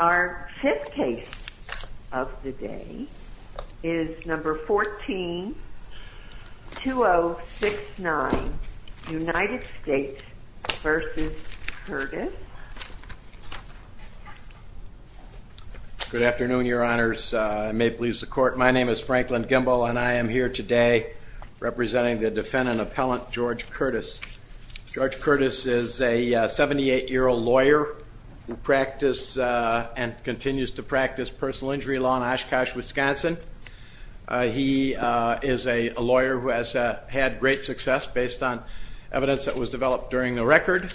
Our fifth case of the day is number 14-2069, United States v. Curtis. My name is Franklin Gimbel and I am here today representing the defendant-appellant George Curtis. George Curtis is a 78-year-old lawyer who practices and continues to practice personal injury law in Oshkosh, Wisconsin. He is a lawyer who has had great success based on what was developed during the record,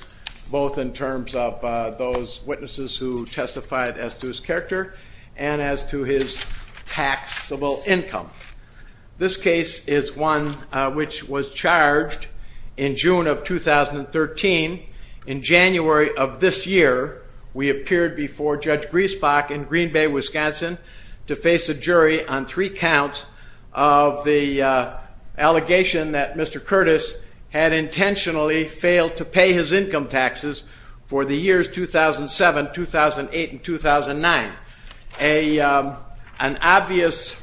both in terms of those witnesses who testified as to his character and as to his taxable income. This case is one which was charged in June of 2013. In January of this year, we appeared before Judge Griesbach in Green Bay, Wisconsin to face a jury on three counts of the allegation that Mr. Curtis had intentionally failed to pay his income taxes for the years 2007, 2008, and 2009. An obvious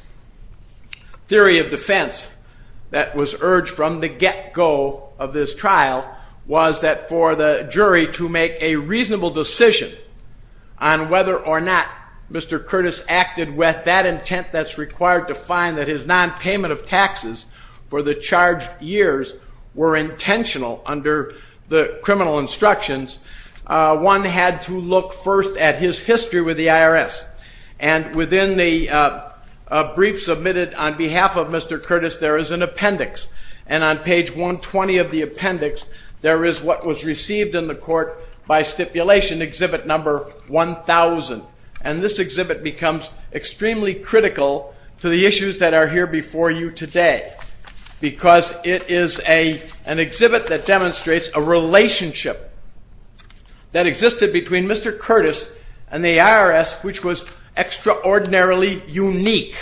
theory of defense that was urged from the get-go of this trial was that for the jury to make a reasonable decision on whether or not Mr. Curtis acted with that intent that's required to find that his non-payment of taxes for the charged years were intentional under the criminal instructions, one had to look first at his history with the IRS. And within the brief submitted on behalf of Mr. Curtis, there is an appendix. And on page 120 of the appendix, there is what was received in the court by stipulation, exhibit number 1000. And this is one of the issues that are here before you today, because it is an exhibit that demonstrates a relationship that existed between Mr. Curtis and the IRS, which was extraordinarily unique.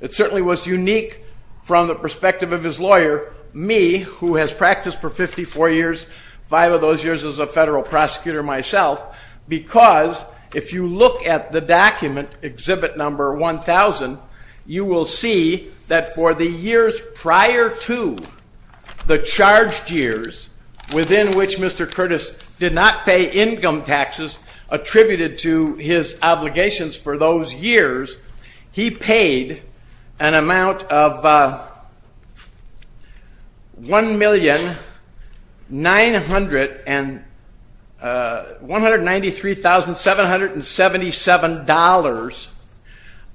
It certainly was unique from the perspective of his lawyer, me, who has practiced for 54 years, five of those years as a federal prosecutor myself, because if you look at the document, exhibit number 1000, you will see that for the years prior to the charged years within which Mr. Curtis did not pay income taxes attributed to his obligations for those years, he paid an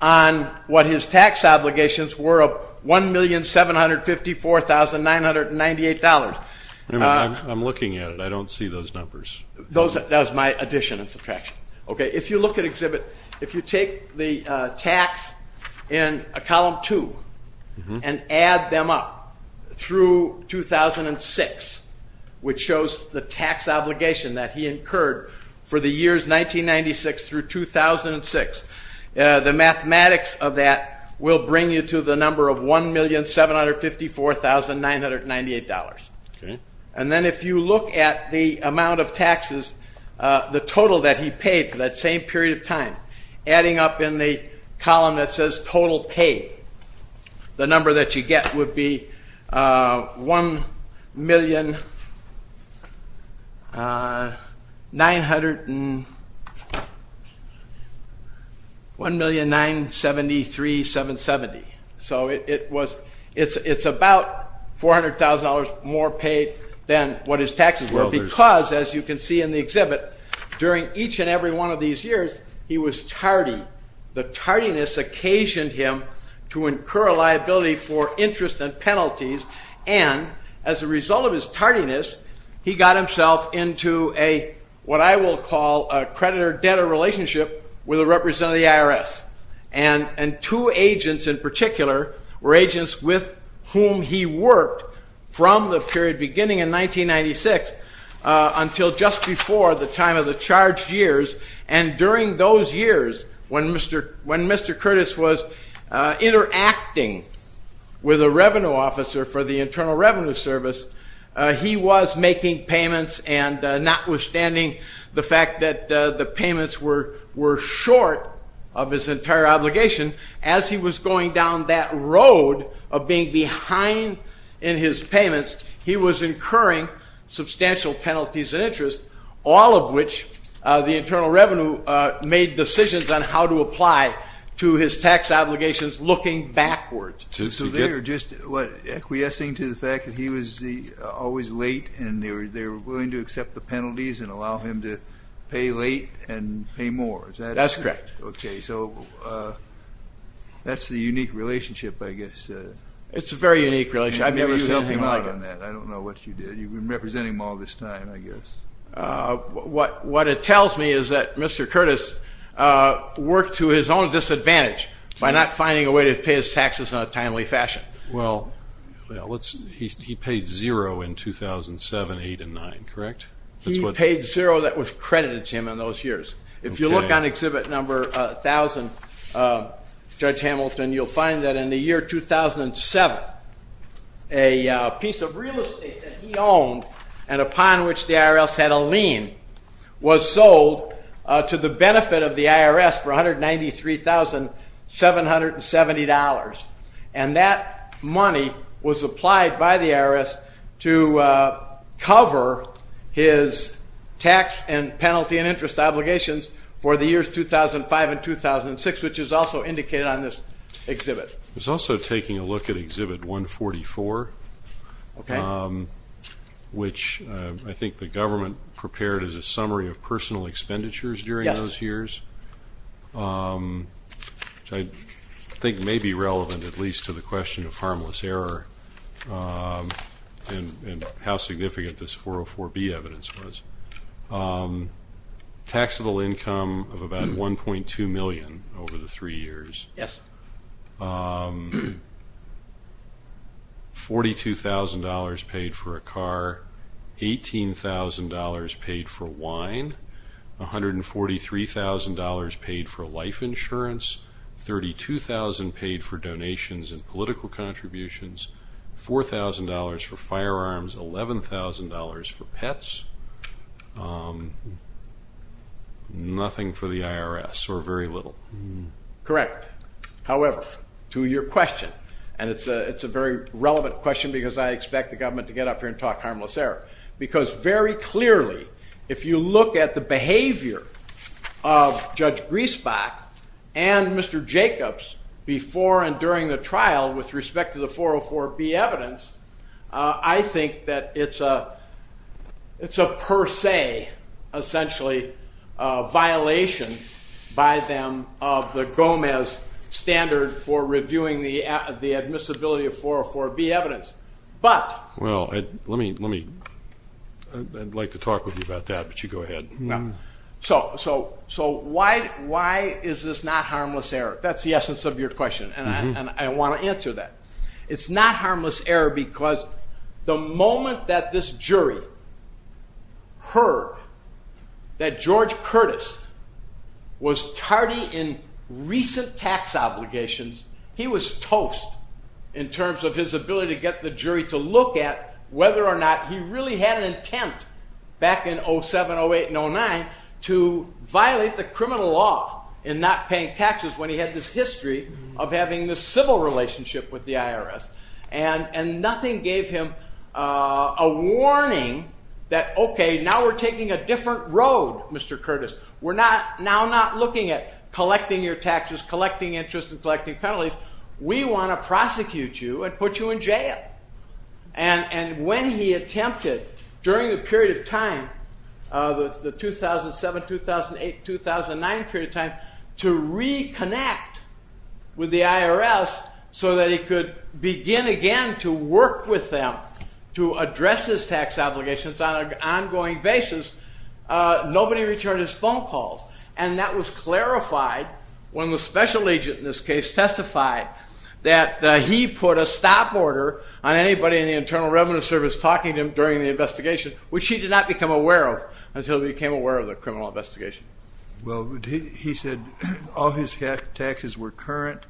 on what his tax obligations were of $1,754,998. I'm looking at it, I don't see those numbers. Those are my addition and subtraction. Okay, if you look at exhibit, if you take the tax in a column two, and add them up through 2006, which shows the tax obligation that he incurred for the years 1996 through 2006, the mathematics of that will bring you to the number of $1,754,998. And then if you look at the amount of taxes, the total that he paid for that same period of time, adding up in the column that says total paid, the number that you get would be $1,973,770. So it was, it's about $400,000 more paid than what his taxes were, because as you can see in the exhibit, during each and every one of these years, he was tardy. The tardiness occasioned him to incur a liability for interest and penalties, and as a result of his tardiness, he got himself into a, what I will call a creditor-debtor relationship with a representative of the IRS. And two agents in particular were agents with whom he worked from the period beginning in 1996 until just before the time of the charged years, and during those years when Mr. Curtis was interacting with a revenue officer for the Internal Revenue Service, he was making payments and notwithstanding the fact that the payments were short of his entire obligation, as he was going down that road of behind in his payments, he was incurring substantial penalties and interest, all of which the Internal Revenue made decisions on how to apply to his tax obligations looking backwards. So they were just, what, acquiescing to the fact that he was always late and they were willing to accept the penalties and allow him to pay late and pay more, is that it? That's correct. Okay, so that's the unique relationship, I guess. It's a very unique relationship. I've never seen anything like it. I don't know what you did. You've been representing him all this time, I guess. What it tells me is that Mr. Curtis worked to his own disadvantage by not finding a way to pay his taxes in a timely fashion. Well, he paid zero in 2007, 8, and 9, correct? He paid zero that was credited to him in those years. If you look on that in the year 2007, a piece of real estate that he owned and upon which the IRS had a lien was sold to the benefit of the IRS for $193,770, and that money was applied by the IRS to cover his tax and penalty and interest obligations for the years 2005 and 2006, which is also indicated on this It's also taking a look at Exhibit 144, which I think the government prepared as a summary of personal expenditures during those years, which I think may be relevant at least to the question of harmless error and how significant this 404B evidence was. Taxable income of about $1.2 million over the three years. $42,000 paid for a car, $18,000 paid for wine, $143,000 paid for life insurance, $32,000 paid for donations and political contributions, $4,000 for firearms, $11,000 for Correct. However, to your question, and it's a very relevant question because I expect the government to get up here and talk harmless error, because very clearly if you look at the behavior of Judge Griesbach and Mr. Jacobs before and during the trial with respect to the 404B evidence, I think that it's a per se, essentially, violation by them of the Gomez standard for reviewing the admissibility of 404B evidence, but... Well, let me... I'd like to talk with you about that, but you go ahead. No. So why is this not harmless error? That's the essence of your question, and I want to answer that. It's not harmless error because the moment that this jury heard that George Curtis was tardy in recent tax obligations, he was toast in terms of his ability to get the jury to look at whether or not he really had an intent back in 07, 08, and 09 to violate the criminal law in not paying taxes when he had this history of having this civil relationship with the IRS, and nothing gave him a warning that, okay, now we're taking a different road, Mr. Curtis. We're now not looking at collecting your taxes, collecting interest, and collecting penalties. We want to prosecute you and put you in jail, and when he with the IRS so that he could begin again to work with them to address his tax obligations on an ongoing basis, nobody returned his phone calls, and that was clarified when the special agent in this case testified that he put a stop order on anybody in the Internal Revenue Service talking to him during the investigation, which he did not become aware of until he became aware of the criminal investigation. Well, he said all his taxes were current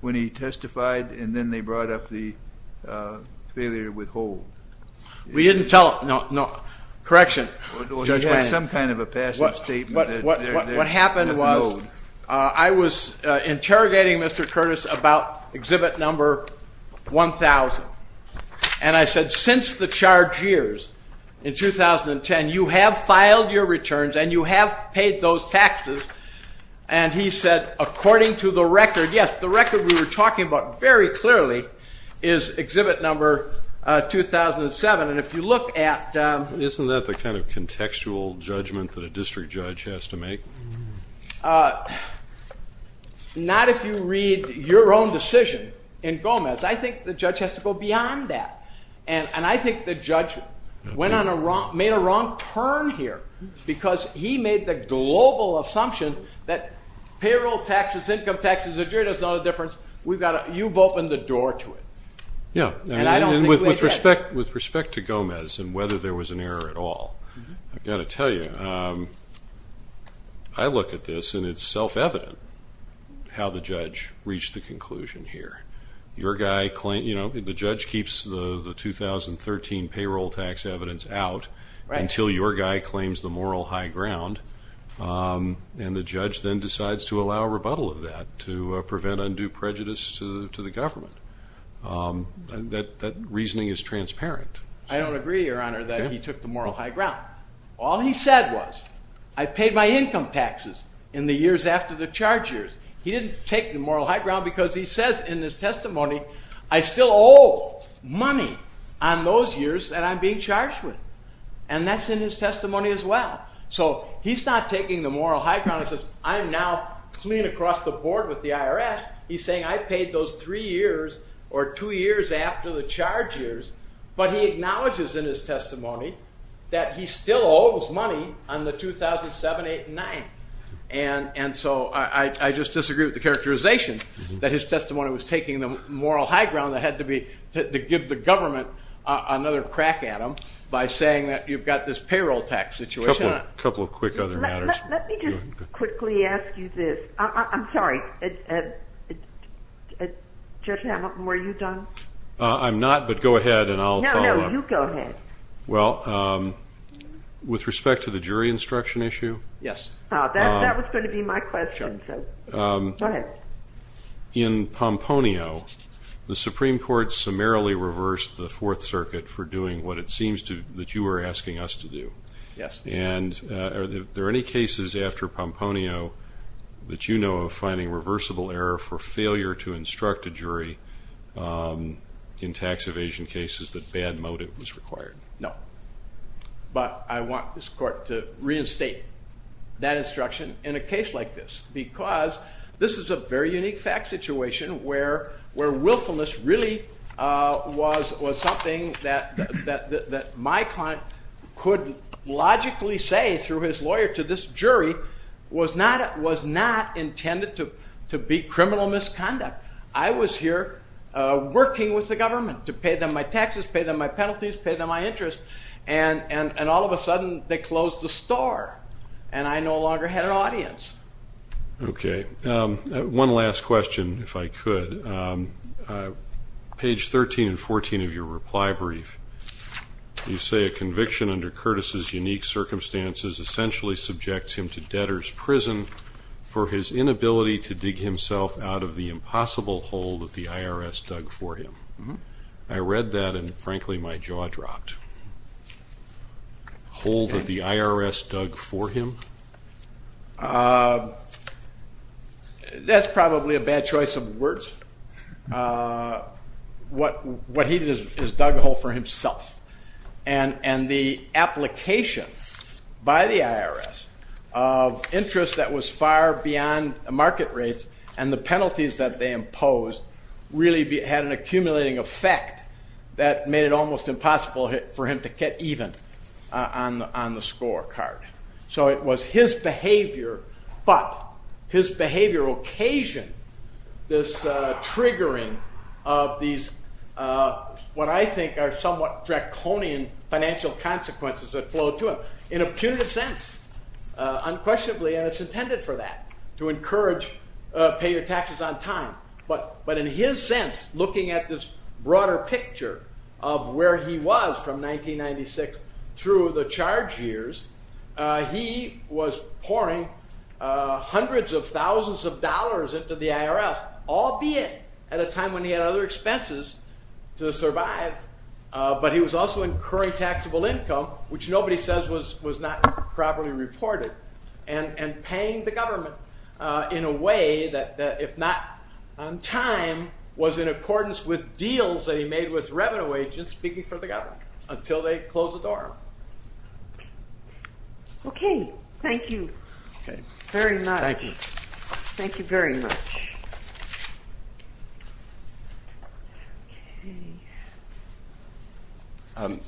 when he testified, and then they brought up the failure to withhold. We didn't tell him. No, correction. Well, he had some kind of a passive statement. What happened was I was interrogating Mr. Curtis about exhibit number 1,000, and I said, since the charge years in 2010, you have filed your returns and you have paid those taxes, and he said, according to the record, yes, the record we were talking about very clearly is exhibit number 2,007, and if you look at Isn't that the kind of contextual judgment that a district judge has to make? Not if you read your own decision in Gomez. I think the judge has to go beyond that, and I think the judge made a wrong turn here because he made the global assumption that payroll taxes, income taxes, the jury doesn't know the difference. You've opened the door to it. Yeah, and with respect to Gomez and whether there was an error at all, I've got to tell you, I look at this and it's self-evident how the judge reached the conclusion here. The judge keeps the 2013 payroll tax evidence out until your guy claims the moral high ground, and the judge then decides to allow a rebuttal of that to prevent undue prejudice to the government. That reasoning is transparent. I don't agree, Your Honor, that he took the moral high ground. All he said was, I paid my income taxes in the years after the charge years. He didn't take the moral high ground because he says in his testimony, I still owe money on those years that I'm being charged with, and that's in his testimony as well. So he's not taking the moral high ground and says, I'm now clean across the board with the IRS. He's saying I paid those three years or two years after the charge years, but he acknowledges in his testimony that he still owes money on the 2007, 2008, and 2009. And so I just disagree with the characterization that his testimony was taking the moral high ground that had to be to give the government another crack at him by saying that you've got this payroll tax situation. A couple of quick other matters. Let me just quickly ask you this. I'm sorry, Judge Hamilton, were you done? I'm not, but go ahead and I'll follow up. No, no, you go ahead. Well, with respect to the jury instruction issue. Yes. That was going to be my question. Go ahead. In Pomponio, the Supreme Court summarily reversed the Fourth Circuit for doing what it seems that you were asking us to do. Yes. And are there any cases after Pomponio that you know of finding reversible error for failure to instruct a jury in tax evasion cases that bad motive was required? No. But I want this court to reinstate that instruction in a case like this because this is a very unique fact situation where willfulness really was something that my client could logically say through his lawyer to this jury was not intended to be criminal misconduct. I was here working with the government to pay them my taxes, pay them my penalties, pay them my interest, and all of a sudden they closed the store and I no longer had an audience. Okay. One last question, if I could. Page 13 and 14 of your reply brief, you say a conviction under Curtis' unique circumstances essentially subjects him to debtor's prison for his inability to dig himself out of the impossible hole that the IRS dug for him. I read that and, frankly, my jaw dropped. Hole that the IRS dug for him? That's probably a bad choice of words. What he did is dug a hole for himself. And the application by the IRS of interest that was far beyond market rates and the penalties that they imposed really had an accumulating effect that made it almost impossible for him to get even on the scorecard. So it was his behavior, but his behavior occasioned this triggering of these what I think are somewhat draconian financial consequences that flowed to him in a punitive sense, unquestionably, and it's intended for that, to encourage pay your taxes on time. But in his sense, looking at this broader picture of where he was from 1996 through the charge years, he was pouring hundreds of thousands of dollars into the IRS, albeit at a time when he had other expenses to survive. But he was also incurring taxable income, which nobody says was not properly reported, and paying the government in a way that, if not on time, was in accordance with deals that he made with revenue agents speaking for the government until they closed the door on him. Okay. Thank you. Very much. Thank you. Thank you very much.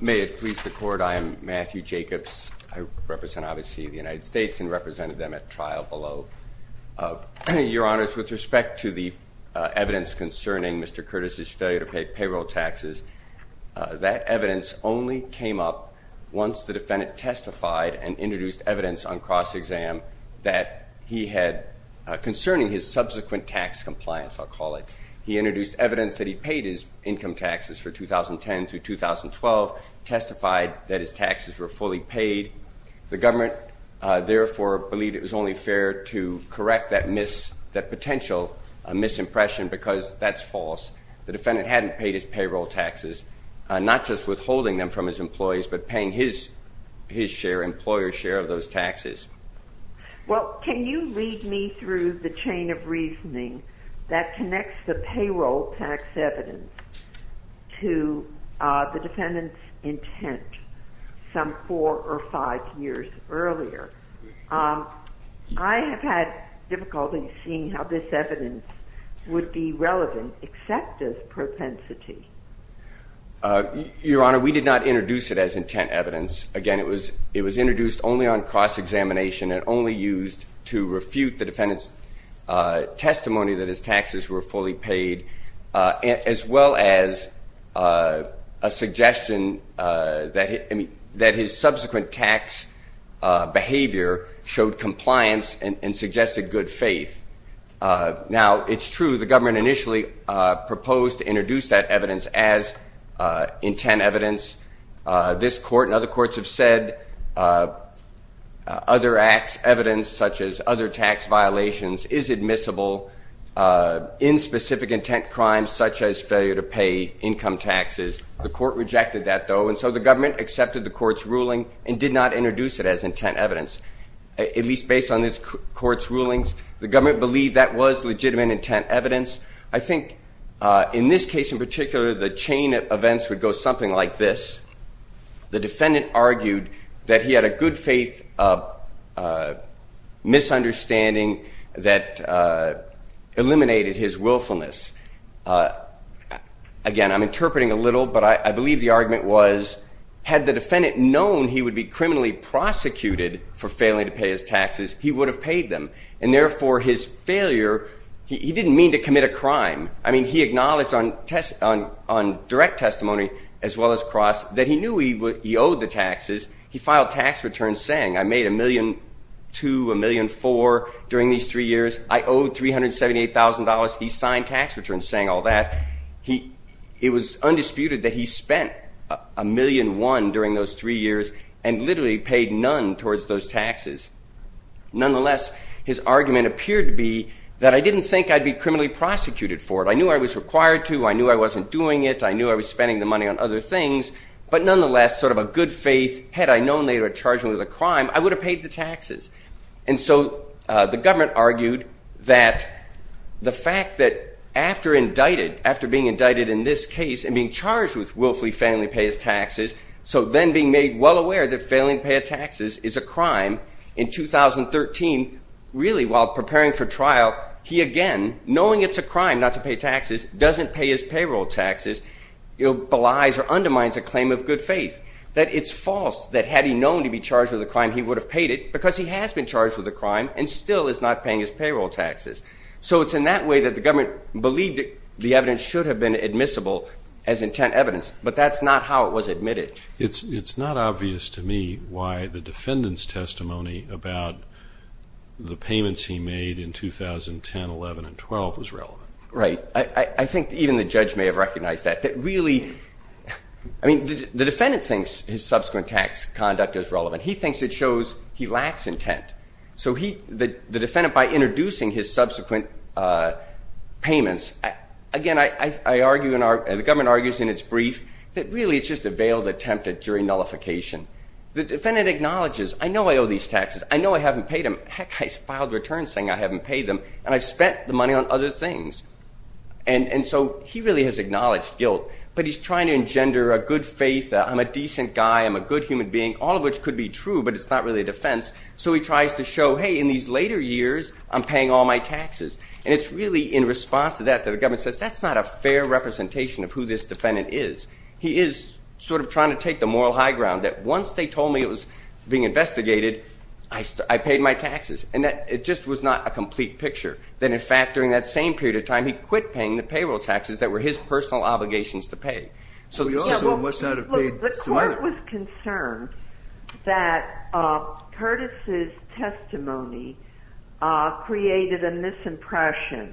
May it please the Court, I am Matthew Jacobs. I represent, obviously, the United States and represented them at trial below. Your Honors, with respect to the evidence concerning Mr. Curtis's failure to pay payroll taxes, that evidence only came up once the defendant testified and introduced evidence on cross-exam concerning his subsequent tax compliance, I'll call it. He introduced evidence that he paid his income taxes for 2010 through 2012, testified that his taxes were fully paid. The government, therefore, believed it was only fair to correct that potential misimpression because that's false. The defendant hadn't paid his payroll taxes, not just withholding them from his employees, but paying his share, employer's share of those taxes. Well, can you lead me through the chain of reasoning that connects the payroll tax evidence to the defendant's intent some four or five years earlier? I have had difficulty seeing how this evidence would be relevant except as propensity. Your Honor, we did not introduce it as intent evidence. Again, it was introduced only on cross-examination and only used to refute the defendant's testimony that his taxes were fully paid, as well as a suggestion that his subsequent tax behavior showed compliance and suggested good faith. Now, it's true the government initially proposed to introduce that evidence as intent evidence. This court and other courts have said other acts, evidence such as other tax violations, is admissible. In specific intent crimes such as failure to pay income taxes, the court rejected that, though, and so the government accepted the court's ruling and did not introduce it as intent evidence, at least based on this court's rulings. The government believed that was legitimate intent evidence. I think in this case in particular, the chain of events would go something like this. The defendant argued that he had a good faith misunderstanding that eliminated his willfulness. Again, I'm interpreting a little, but I believe the argument was, had the defendant known he would be criminally prosecuted for failing to pay his taxes, he would have paid them, and therefore his failure, he didn't mean to commit a crime. I mean, he acknowledged on direct testimony as well as cross that he knew he owed the taxes. He filed tax returns saying, I made $1.2 million, $1.4 million during these three years. I owed $378,000. He signed tax returns saying all that. It was undisputed that he spent $1.1 million during those three years and literally paid none towards those taxes. Nonetheless, his argument appeared to be that I didn't think I'd be criminally prosecuted for it. I knew I was required to. I knew I wasn't doing it. I knew I was spending the money on other things, but nonetheless, sort of a good faith, had I known they were charging me with a crime, I would have paid the taxes. And so the government argued that the fact that after indicted, after being indicted in this case and being charged with willfully failing to pay his taxes, so then being made well aware that failing to pay his taxes is a crime, in 2013, really while preparing for trial, he again, knowing it's a crime not to pay taxes, doesn't pay his payroll taxes, belies or undermines a claim of good faith. That it's false that had he known to be charged with a crime, he would have paid it because he has been charged with a crime and still is not paying his payroll taxes. So it's in that way that the government believed the evidence should have been admissible as intent evidence, but that's not how it was admitted. It's not obvious to me why the defendant's testimony about the payments he made in 2010, 11, and 12 was relevant. Right. I think even the judge may have recognized that, that really, I mean, the defendant thinks his subsequent tax conduct is relevant. He thinks it shows he lacks intent. So the defendant, by introducing his subsequent payments, again, I argue, the government argues in its brief that really it's just a veiled attempt at jury nullification. The defendant acknowledges, I know I owe these taxes. I know I haven't paid them. Heck, I filed a return saying I haven't paid them, and I've spent the money on other things. And so he really has acknowledged guilt, but he's trying to engender a good faith, I'm a decent guy, I'm a good human being, all of which could be true, but it's not really a defense. So he tries to show, hey, in these later years, I'm paying all my taxes. And it's really in response to that that the government says, that's not a fair representation of who this defendant is. He is sort of trying to take the moral high ground that once they told me it was being investigated, I paid my taxes, and that it just was not a complete picture, that in fact during that same period of time he quit paying the payroll taxes that were his personal obligations to pay. The court was concerned that Curtis' testimony created a misimpression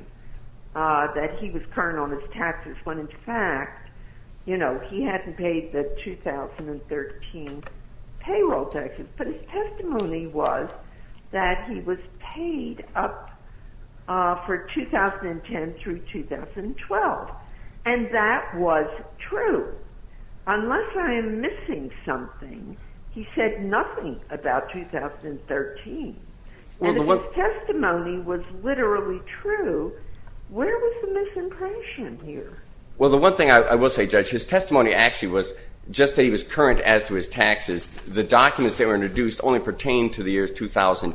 that he was current on his taxes, when in fact, you know, he hadn't paid the 2013 payroll taxes. But his testimony was that he was paid up for 2010 through 2012. And that was true. Unless I am missing something, he said nothing about 2013. And if his testimony was literally true, where was the misimpression here? Well, the one thing I will say, Judge, his testimony actually was just that he was current as to his taxes. The documents that were introduced only pertain to the years 2000,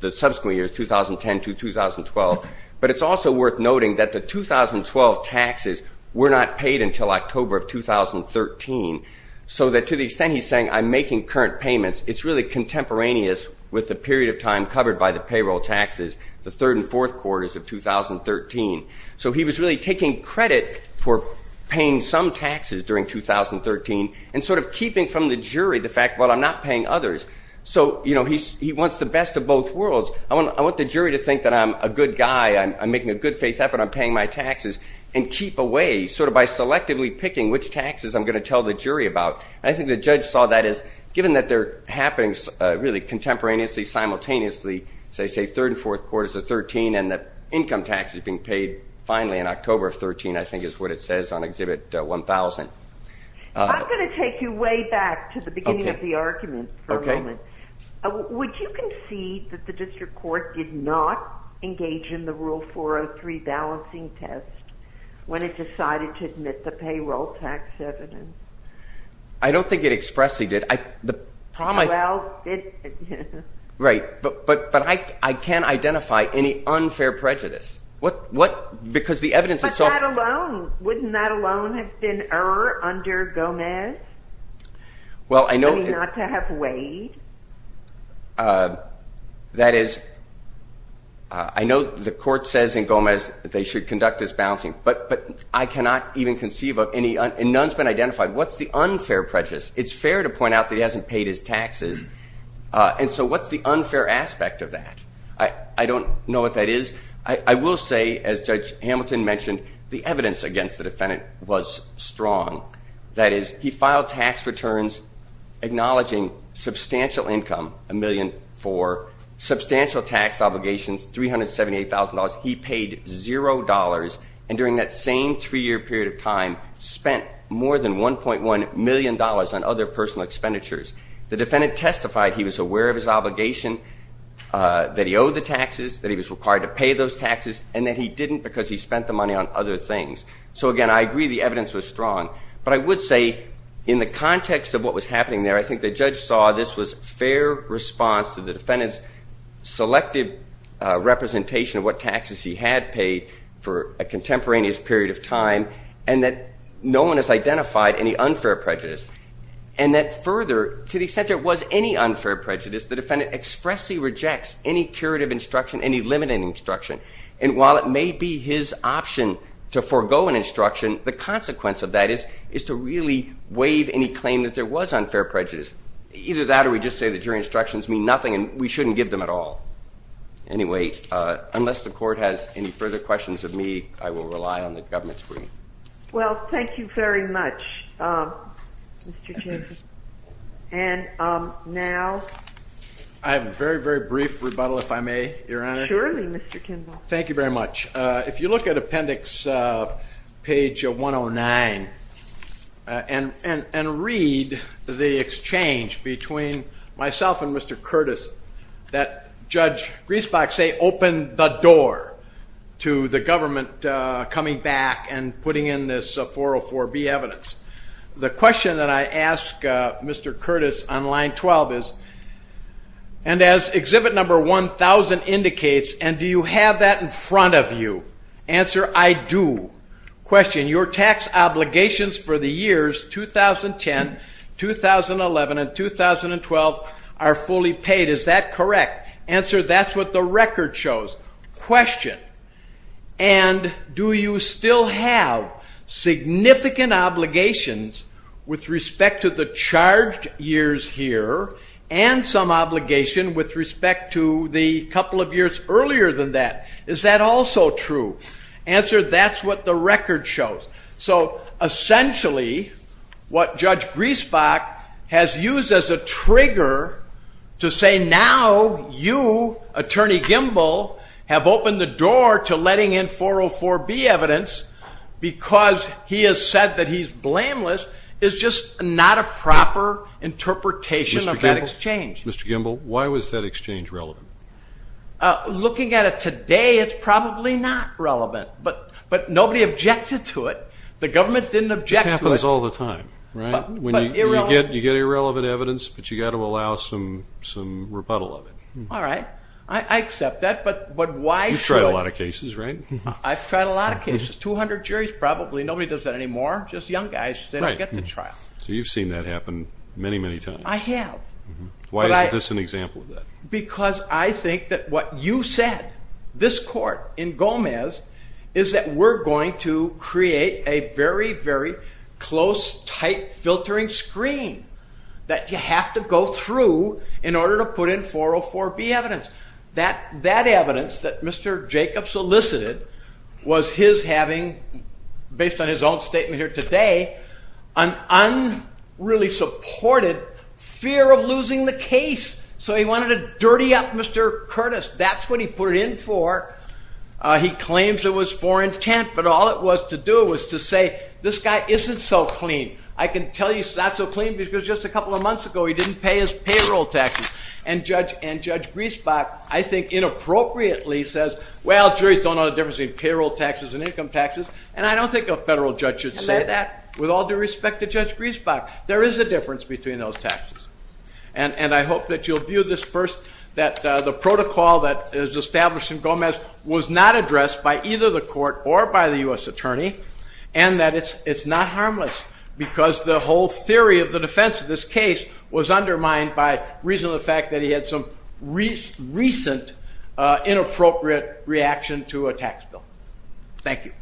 the subsequent years, 2010 to 2012. But it's also worth noting that the 2012 taxes were not paid until October of 2013, so that to the extent he's saying I'm making current payments, it's really contemporaneous with the period of time covered by the payroll taxes, the third and fourth quarters of 2013. So he was really taking credit for paying some taxes during 2013, and sort of keeping from the jury the fact, well, I'm not paying others. So, you know, he wants the best of both worlds. I want the jury to think that I'm a good guy, I'm making a good faith effort, I'm paying my taxes, and keep away sort of by selectively picking which taxes I'm going to tell the jury about. And I think the judge saw that as given that they're happening really contemporaneously, simultaneously, as I say, third and fourth quarters of 2013 and that income tax is being paid finally in October of 2013, I think is what it says on Exhibit 1000. I'm going to take you way back to the beginning of the argument for a moment. Would you concede that the district court did not engage in the Rule 403 balancing test when it decided to admit the payroll tax evidence? I don't think it expressly did. Well, it did. Right, but I can't identify any unfair prejudice. What, because the evidence itself... But that alone, wouldn't that alone have been error under Gomez? Well, I know... I mean, not to have weighed? That is, I know the court says in Gomez that they should conduct this balancing, but I cannot even conceive of any, and none's been identified. What's the unfair prejudice? It's fair to point out that he hasn't paid his taxes, and so what's the unfair aspect of that? I don't know what that is. I will say, as Judge Hamilton mentioned, the evidence against the defendant was strong. That is, he filed tax returns acknowledging substantial income, $1.4 million, substantial tax obligations, $378,000. He paid $0, and during that same 3-year period of time, spent more than $1.1 million on other personal expenditures. The defendant testified he was aware of his obligation, that he owed the taxes, that he was required to pay those taxes, and that he didn't because he spent the money on other things. So, again, I agree the evidence was strong, but I would say in the context of what was happening there, I think the judge saw this was fair response to the defendant's selective representation of what taxes he had paid for a contemporaneous period of time, and that no one has identified any unfair prejudice, and that further, to the extent there was any unfair prejudice, the defendant expressly rejects any curative instruction, any limiting instruction, and while it may be his option to forego an instruction, the consequence of that is to really waive any claim that there was unfair prejudice. Either that, or we just say that your instructions mean nothing, and we shouldn't give them at all. Anyway, unless the court has any further questions of me, I will rely on the government's screen. Well, thank you very much, Mr. Chambers. And now... I have a very, very brief rebuttal, if I may, Your Honor. Surely, Mr. Kimball. Thank you very much. If you look at appendix page 109 and read the exchange between myself and Mr. Curtis, that Judge Griesbach say, open the door to the government coming back and putting in this 404B evidence. The question that I ask Mr. Curtis on line 12 is, and as exhibit number 1,000 indicates, and do you have that in front of you? Answer, I do. Question, your tax obligations for the years 2010, 2011, and 2012 are fully paid. Is that correct? Answer, that's what the record shows. Question, and do you still have significant obligations with respect to the charged years here and some obligation with respect to the couple of years earlier than that? Is that also true? Answer, that's what the record shows. So essentially, what Judge Griesbach has used as a trigger to say now you, Attorney Kimball, have opened the door to letting in 404B evidence because he has said that he's blameless is just not a proper interpretation of that exchange. Mr. Kimball, why was that exchange relevant? Looking at it today, it's probably not relevant, but nobody objected to it. The government didn't object to it. This happens all the time, right? You get irrelevant evidence, but you've got to allow some rebuttal of it. All right. I accept that, but why should I? You've tried a lot of cases, right? I've tried a lot of cases, 200 juries probably. Nobody does that anymore, just young guys that don't get to trial. So you've seen that happen many, many times. I have. Why is this an example of that? Because I think that what you said, this court in Gomez, is that we're going to create a very, very close, tight filtering screen that you have to go through in order to put in 404B evidence. That evidence that Mr. Jacobs solicited was his having, based on his own statement here today, an unreally supported fear of losing the case. So he wanted to dirty up Mr. Curtis. That's what he put it in for. He claims it was for intent, but all it was to do was to say, this guy isn't so clean. I can tell you he's not so clean because just a couple of months ago he didn't pay his payroll taxes. And Judge Griesbach, I think, inappropriately says, well, juries don't know the difference between payroll taxes and income taxes, and I don't think a federal judge should say that. With all due respect to Judge Griesbach, there is a difference between those taxes. And I hope that you'll view this first, that the protocol that is established in Gomez was not addressed by either the court or by the U.S. attorney, and that it's not harmless, because the whole theory of the defense of this case was undermined by reason of the fact that he had some recent inappropriate reaction to a tax bill. Thank you.